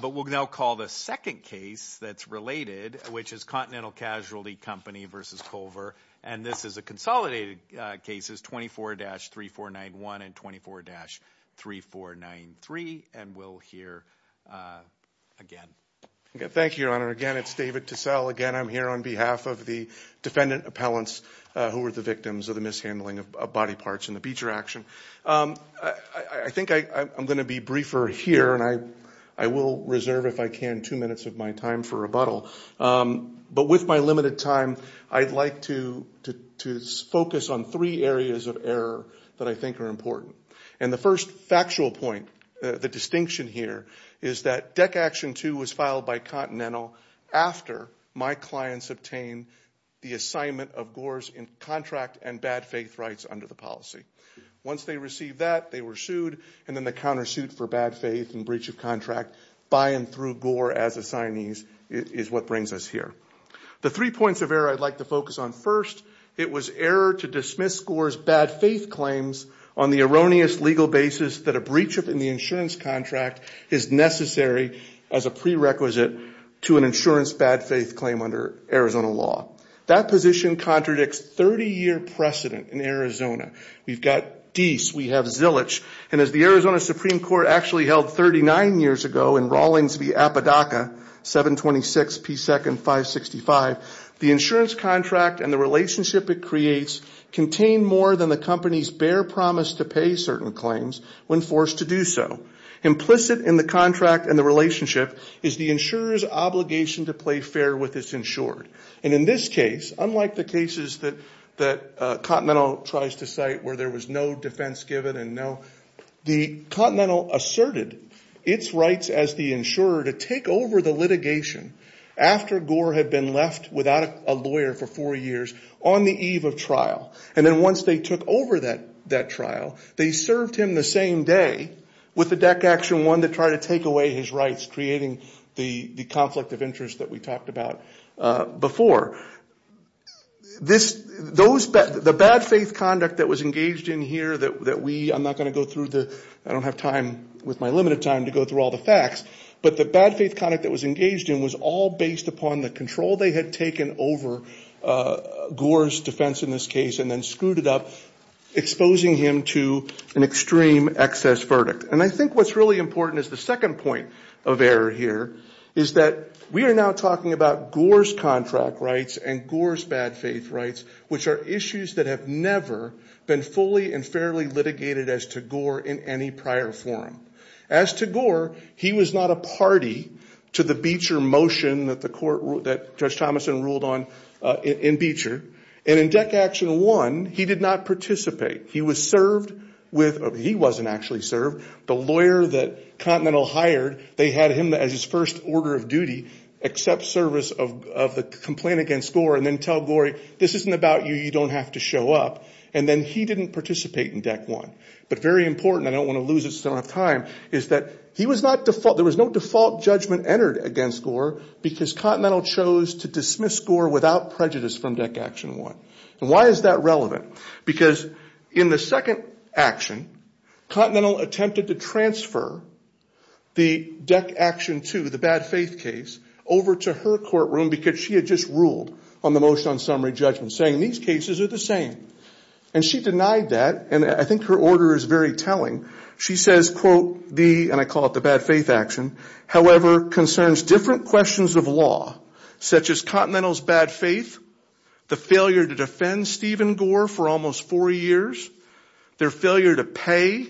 but we'll now call the second case that's related which is Continental Casualty Company versus Culver and this is a consolidated cases 24-3491 and 24-3493 and we'll hear again. Thank you your honor again it's David Tissell again I'm here on behalf of the defendant appellants who were the victims of the mishandling of body parts in the Beecher action. I think I'm going to be briefer here and I will reserve if I can two minutes of my time for rebuttal but with my limited time I'd like to focus on three areas of error that I think are important and the first factual point the distinction here is that deck action 2 was filed by Continental after my clients obtain the assignment of gores in contract and bad faith rights under the policy. Once they receive that they were sued and then the countersuit for bad faith and breach of contract by and through Gore as a signees is what brings us here. The three points of error I'd like to focus on first it was error to dismiss Gore's bad faith claims on the erroneous legal basis that a breach of the insurance contract is necessary as a prerequisite to an insurance bad faith claim under Arizona law. That position contradicts 30-year precedent in Arizona. We've got East, we have Zillich and as the Arizona Supreme Court actually held 39 years ago in Rawlings v. Apodaca 726 p second 565 the insurance contract and the relationship it creates contain more than the company's bare promise to pay certain claims when forced to do so. Implicit in the contract and the relationship is the insurers obligation to play fair with this insured and in this case unlike the cases that that Continental tries to cite where there was no defense given and the Continental asserted its rights as the insurer to take over the litigation after Gore had been left without a lawyer for four years on the eve of trial and then once they took over that that trial they served him the same day with the deck action one to try to take away his rights creating the conflict of interest that we talked about before. The bad faith conduct that was engaged in here that we I'm not going to go through the I don't have time with my limited time to go through all the facts but the bad faith conduct that was engaged in was all based upon the control they had taken over Gore's defense in this case and then screwed it up exposing him to an extreme excess verdict and I think what's really important is the second point of error here is that we are now talking about Gore's contract rights and Gore's bad faith rights which are issues that have never been fully and fairly litigated as to Gore in any prior forum. As to Gore he was not a party to the Beecher motion that the court that Judge Thomason ruled on in Beecher and in deck action one he did not participate he was served with he wasn't actually served the lawyer that Continental hired they had him as his first order of duty accept service of the complaint against Gore and then tell Gore this isn't about you you don't have to show up and then he didn't participate in deck one but very important I don't want to lose it so I don't have time is that he was not default there was no default judgment entered against Gore because Continental chose to dismiss Gore without prejudice from deck action one. Why is that relevant? Because in the second action Continental attempted to transfer the deck action to the bad faith case over to her courtroom because she had just ruled on the motion on summary judgment saying these cases are the same and she denied that and I think her order is very telling she says quote the and I call it the bad faith action however concerns different questions of law such as Continental's bad faith the failure to defend Stephen Gore for almost four years their failure to pay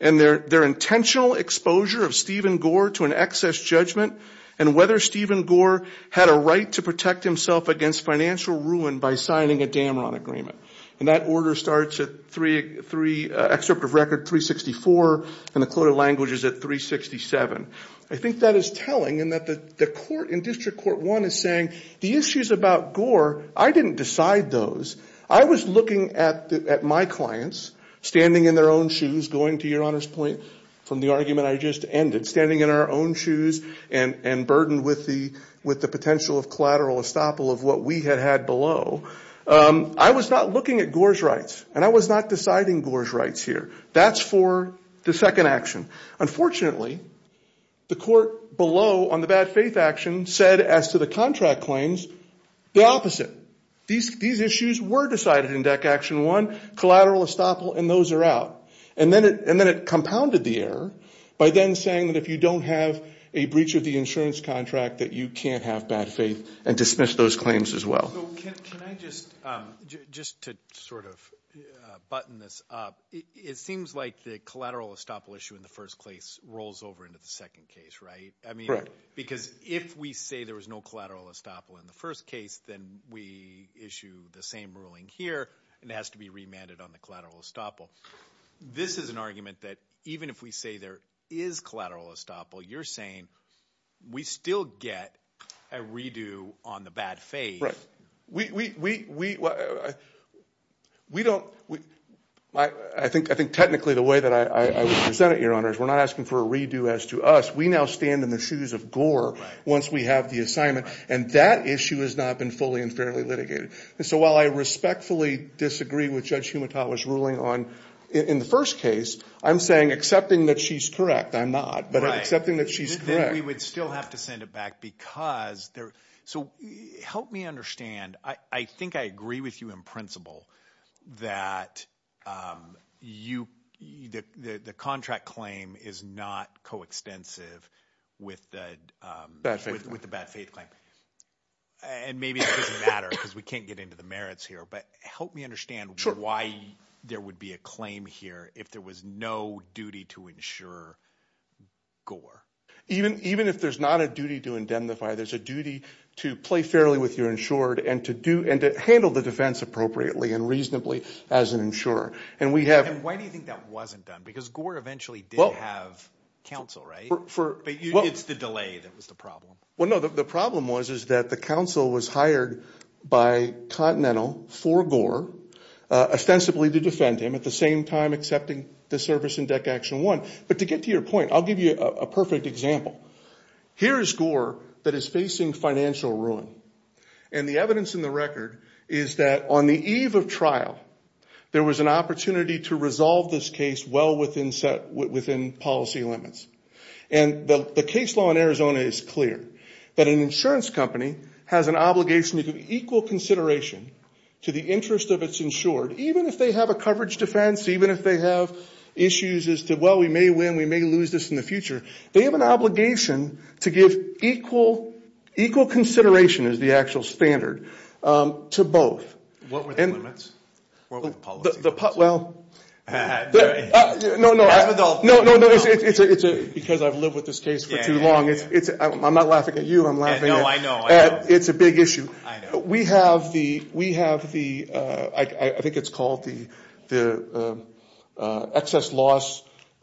and their their intentional exposure of Stephen Gore to an excess judgment and whether Stephen Gore had a right to protect himself against financial ruin by signing a Damron agreement and that order starts at three three excerpt of record 364 and the code of languages at 367 I think that is telling and that the court in district court one is saying the issues about Gore I didn't decide those I was looking at my clients standing in their own shoes going to your honor's point from the argument I just ended standing in our own shoes and and burden with the with the potential of collateral estoppel of what we had had below I was not looking at Gore's rights and I was not deciding Gore's rights here that's for the second action unfortunately the court below on the bad faith action said as to the contract claims the opposite these these issues were decided in deck action one collateral estoppel and those are out and then it and then it compounded the error by then saying that if you don't have a breach of the insurance contract that you can't have bad faith and dismiss those claims as well just to sort of button this up it seems like the collateral estoppel issue in the first place rolls over into the second case right I mean right because if we say there was no collateral estoppel in the first case then we issue the same ruling here and it has to be remanded on the collateral estoppel this is an argument that even if we say there is collateral estoppel you're saying we still get a redo on the bad faith right we we we we don't we I think I think technically the way that I presented your honor's we're not asking for a redo as to us we now stand in the shoes of gore once we have the assignment and that issue has not been fully and fairly litigated and so while I respectfully disagree with judge Humato was ruling on in the first case I'm saying accepting that she's correct I'm not but accepting that she's correct we would still have to send it back because there so help me understand I think I agree with you in principle that you the the contract claim is not coextensive with the with the bad faith claim and maybe it doesn't matter because we can't get into the merits here but help me understand why there would be a claim here if there was no duty to ensure gore even even if there's not a duty to indemnify there's a duty to play fairly with your insured and to do and to handle the defense appropriately and reasonably as an insurer and we have and why do you think that wasn't done because gore eventually well have counsel right for you it's the delay that was the problem well no the problem was is that the council was hired by Continental for gore ostensibly to defend him at the same time accepting the service in deck action one but to get to your point I'll give you a perfect example here is gore that is facing financial ruin and the evidence in the record is that on the eve of trial there was an opportunity to resolve this case well within set within policy limits and the case law in Arizona is clear that an insurance company has an obligation to equal consideration to the interest of its insured even if they have a coverage defense even if they have issues as to well we may win we may lose this in the future they have an obligation to give equal equal consideration is the actual standard to both well because I've lived with this case for too long it's it's I'm not laughing at you I'm laughing oh I know it's a big issue we have the we have the I think it's called the excess loss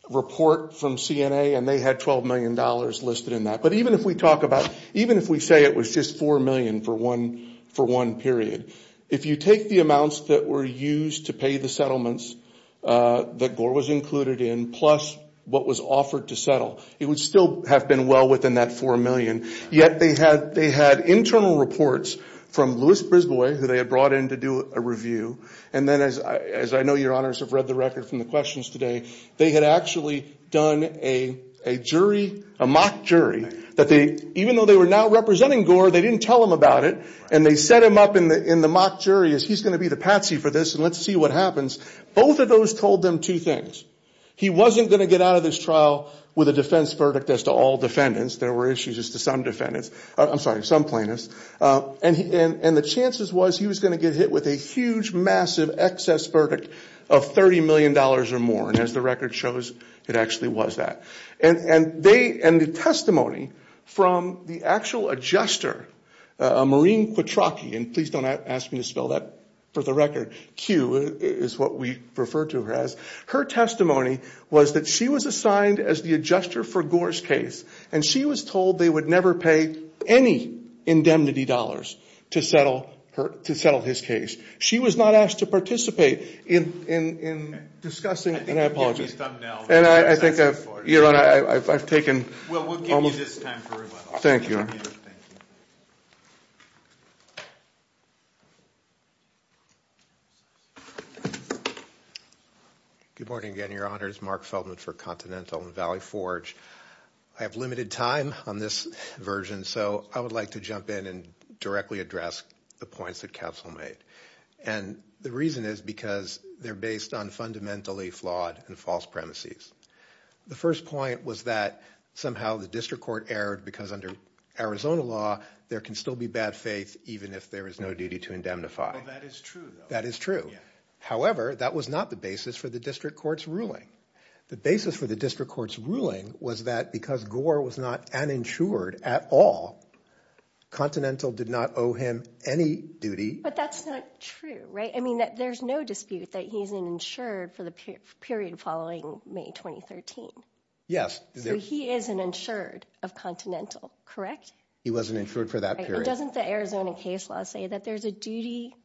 report from CNA and they had 12 million dollars listed in that but even if we talk about even if we say it was just 4 million for one for one period if you take the amounts that were used to pay the settlements that Gore was included in plus what was offered to settle it would still have been well within that 4 million yet they had they had internal reports from Lewis Brisbois who they had brought in to do a review and then as I as I know your honors have read the record from the questions today they had actually done a jury a mock jury that they even though they were not representing Gore they didn't tell him about it and they set him up in the in the mock jury is he's going to be the Patsy for this and let's see what happens both of those told them two things he wasn't going to get out of this trial with a defense verdict as to all defendants there were issues as to some defendants I'm sorry some plaintiffs and and and the chances was he was going to get hit with a huge massive excess verdict of 30 million dollars or more and as the record shows it actually was that and and they and the testimony from the actual adjuster a Marine Pataki and please don't ask me to spell that for the record Q is what we refer to her as her testimony was that she was assigned as the adjuster for Gore's case and she was told they would never pay any indemnity dollars to settle her to settle his case she was not asked to participate in in in discussing and I apologize and I think I've taken thank you good morning again your honors Mark Feldman for Continental and Valley Forge I have limited time on this version so I would like to jump in and directly address the points that counsel made and the reason is because they're based on fundamentally flawed and false premises the first point was that somehow the district court erred because under Arizona law there can still be bad faith even if there is no duty to indemnify that is true that is true however that was not the basis for the district courts ruling the basis for the district courts ruling was that because Gore was not an insured at all Continental did not owe him any duty but that's not true right I mean that there's no dispute that he's an insured for the period following May 2013 yes so he is an insured of Continental correct he wasn't insured for that period doesn't the Arizona case law say that there's a duty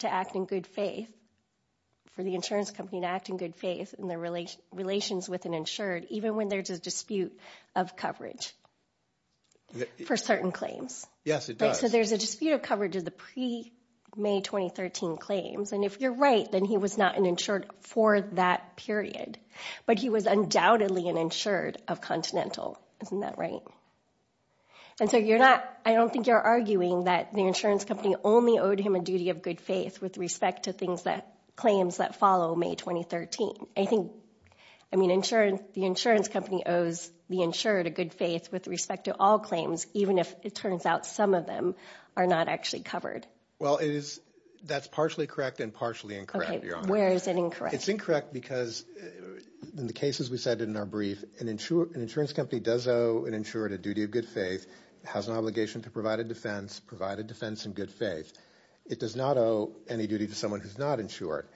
to act in good faith for the insurance company to act in good faith in their relations with an insured even when there's a dispute of coverage for certain claims yes it does so there's a May 2013 claims and if you're right then he was not an insured for that period but he was undoubtedly an insured of Continental isn't that right and so you're not I don't think you're arguing that the insurance company only owed him a duty of good faith with respect to things that claims that follow May 2013 I think I mean insurance the insurance company owes the insured a good faith with respect to all claims even if it turns out some of them are not actually covered well it is that's partially correct and partially incorrect where is it incorrect it's incorrect because in the cases we said in our brief an insurer an insurance company does owe an insured a duty of good faith has an obligation to provide a defense provide a defense in good faith it does not owe any duty to someone who's not insured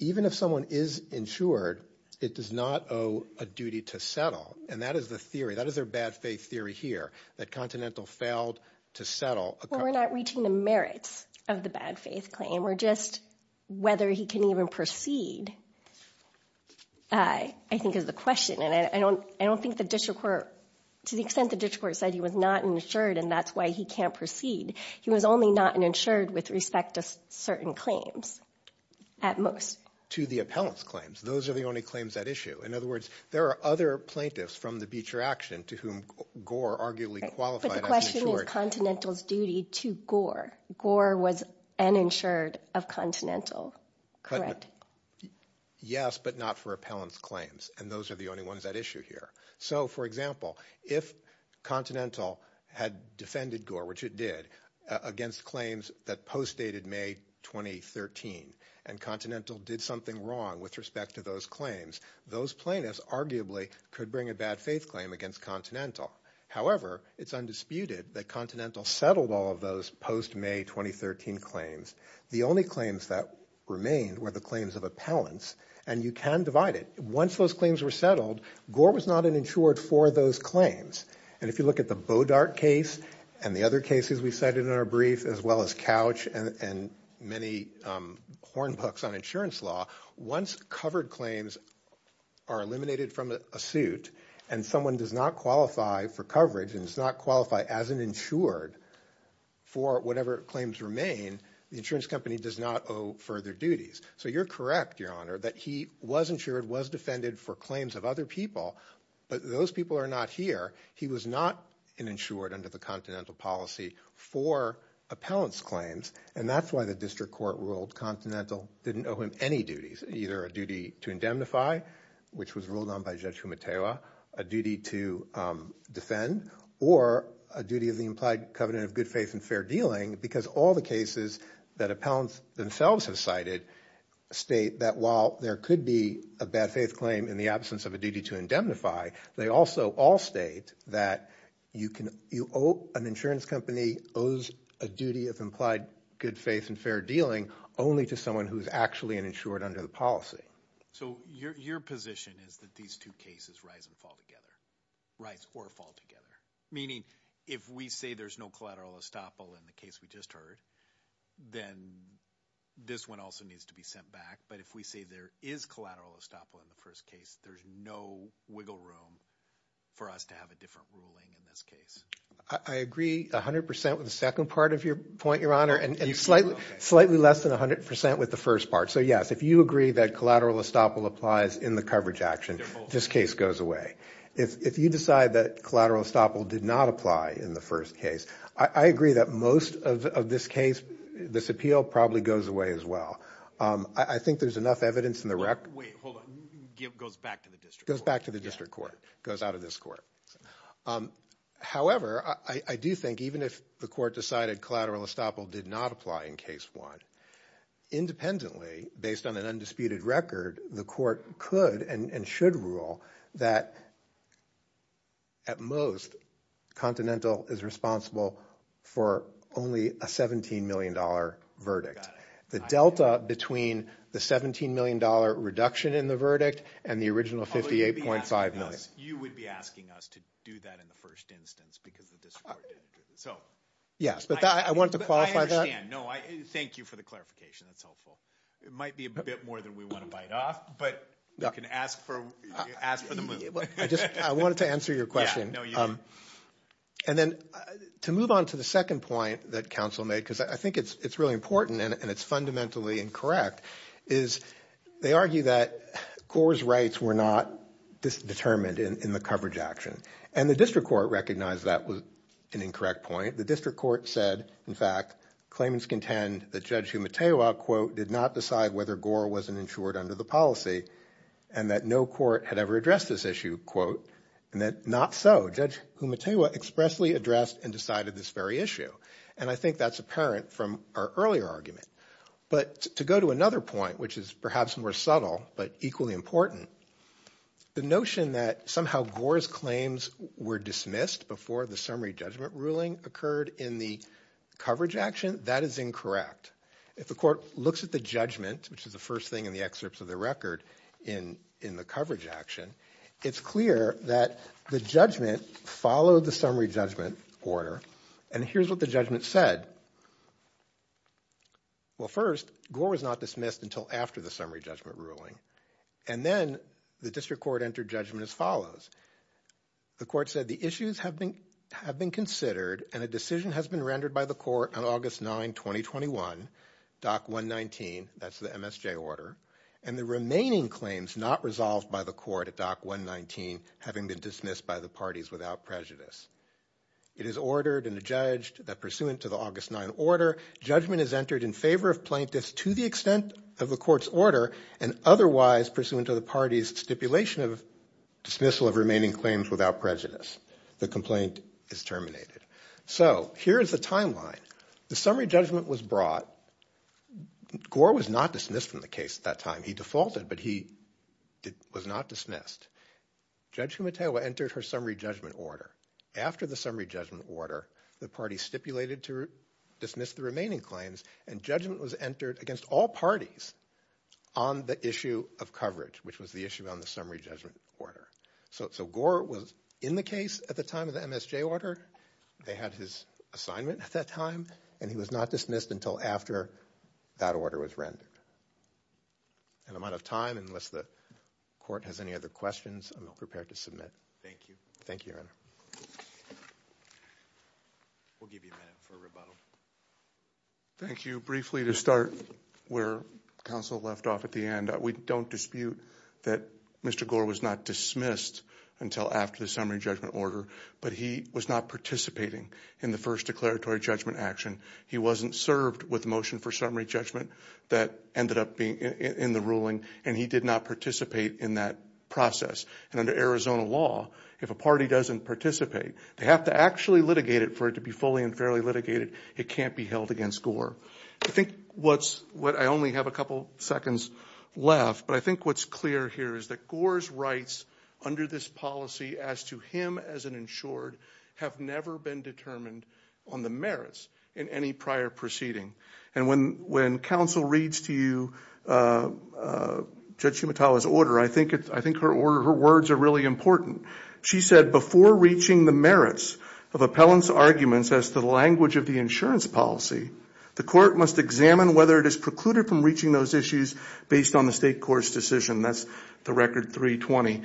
even if someone is insured it does not owe a duty to settle and that is the theory that is their bad faith theory here that Continental failed to settle we're not reaching the merits of the bad faith claim we're just whether he can even proceed I I think is the question and I don't I don't think the district court to the extent the district court said he was not insured and that's why he can't proceed he was only not an insured with respect to certain claims at most to the appellants claims those are the only claims that issue in other words there are other plaintiffs from the Beecher action to whom Gore arguably qualified Continentals duty to Gore Gore was an insured of Continental correct yes but not for appellants claims and those are the only ones that issue here so for example if Continental had defended Gore which it did against claims that post dated May 2013 and Continental did something wrong with respect to those claims those plaintiffs arguably could bring a bad faith claim against Continental however it's undisputed that Continental settled all of those post May 2013 claims the only claims that remain were the claims of appellants and you can divide it once those claims were settled Gore was not an insured for those claims and if you look at the Bodart case and the other cases we said in our brief as well as and many hornbucks on insurance law once covered claims are eliminated from a suit and someone does not qualify for coverage and it's not qualified as an insured for whatever claims remain the insurance company does not owe further duties so you're correct your honor that he wasn't sure it was defended for claims of other people but those people are not here he was not an insured under the Continental policy for appellants claims and that's why the district court ruled Continental didn't owe him any duties either a duty to indemnify which was ruled on by Judge Humatewa a duty to defend or a duty of the implied covenant of good faith and fair dealing because all the cases that appellants themselves have cited state that while there could be a bad faith claim in the of a duty to indemnify they also all state that you can you owe an insurance company owes a duty of implied good faith and fair dealing only to someone who's actually an insured under the policy so your position is that these two cases rise and fall together rise or fall together meaning if we say there's no collateral estoppel in the case we just heard then this one also needs to be sent back but if we say there is collateral estoppel in the first case there's no wiggle room for us to have a different ruling in this case I agree a hundred percent with the second part of your point your honor and you slightly slightly less than a hundred percent with the first part so yes if you agree that collateral estoppel applies in the coverage action this case goes away if you decide that collateral estoppel did not apply in the first case I agree that most of this case this appeal probably goes away as well I think there's enough evidence in the record goes back to the district court goes out of this court however I do think even if the court decided collateral estoppel did not apply in case one independently based on an undisputed record the court could and should rule that at most Continental is responsible for only a 17 million dollar verdict the Delta between the 17 million dollar reduction in the verdict and the original 58.5 you would be asking us to do that in the first instance because I want to thank you for the clarification it might be a bit more than we want to ask for I wanted to answer your question and then to move on to the second point that counsel may because I think it's it's really important and it's fundamentally incorrect is they argue that Gore's rights were not determined in the coverage action and the district court recognized that was an incorrect point the district court said in fact claims contend the judge who material quote did not decide whether Gore wasn't insured under the policy and that no court had ever addressed this issue quote that not judge who material expressly addressed and decided this very issue and I think that's apparent from our earlier argument but to go to another point which is perhaps more subtle but equally important the notion that somehow Gore's claims were dismissed before the summary judgment ruling occurred in the coverage action that is incorrect if the court looks at the judgment which is the first thing in the excerpts of the record in in the coverage action it's clear that the judgment followed the summary judgment order and here's what the judgment said well first Gore was not dismissed until after the summary judgment ruling and then the district court entered judgment as follows the court said the issues have been have been considered and a decision has been rendered by the court on August 9 2021 doc 119 that's the MSJ order and the remaining claims not resolved by the court at doc 119 having been dismissed by the parties without prejudice it is ordered and adjudged that pursuant to the August 9 order judgment is entered in favor of plaintiffs to the extent of the court's order and otherwise pursuant to the parties stipulation of dismissal of remaining claims without prejudice the complaint is terminated so here's the timeline the summary judgment was brought Gore was not dismissed from the case at that time he defaulted but he did was not dismissed judging Mateo entered her summary judgment order after the summary judgment order the party stipulated to dismiss the remaining claims and judgment was entered against all parties on the issue of coverage which was the issue on the summary judgment order so Gore was in the case at the time of the MSJ order they had his assignment at that time and he was not dismissed until after that order was and I'm out of time unless the court has any other questions I'm not prepared to submit thank you thank you thank you briefly to start where counsel left off at the end we don't dispute that mr. Gore was not dismissed until after the summary judgment order but he was not participating in the first declaratory judgment action he wasn't served with motion for summary judgment that ended up being in the ruling and he did not participate in that process and under Arizona law if a party doesn't participate they have to actually litigate it for it to be fully and fairly litigated it can't be held against Gore I think what's what I only have a couple seconds left but I think what's clear here is that Gore's rights under this policy as to him as an have never been determined on the merits in any prior proceeding and when when counsel reads to you judge Shimatawa's order I think it's I think her order her words are really important she said before reaching the merits of appellants arguments as to the language of the insurance policy the court must examine whether it is precluded from reaching those issues based on the state courts decision that's the record 320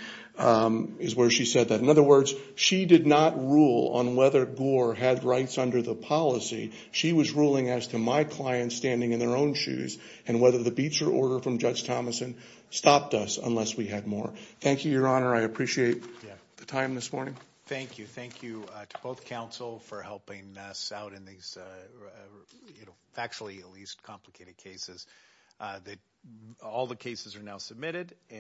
is where she said that in other words she did not rule on whether Gore had rights under the policy she was ruling as to my client standing in their own shoes and whether the Beecher order from judge Thomasson stopped us unless we had more thank you your honor I appreciate the time this morning thank you thank you to both counsel for helping us out in these actually at least complicated cases that all the cases are now submitted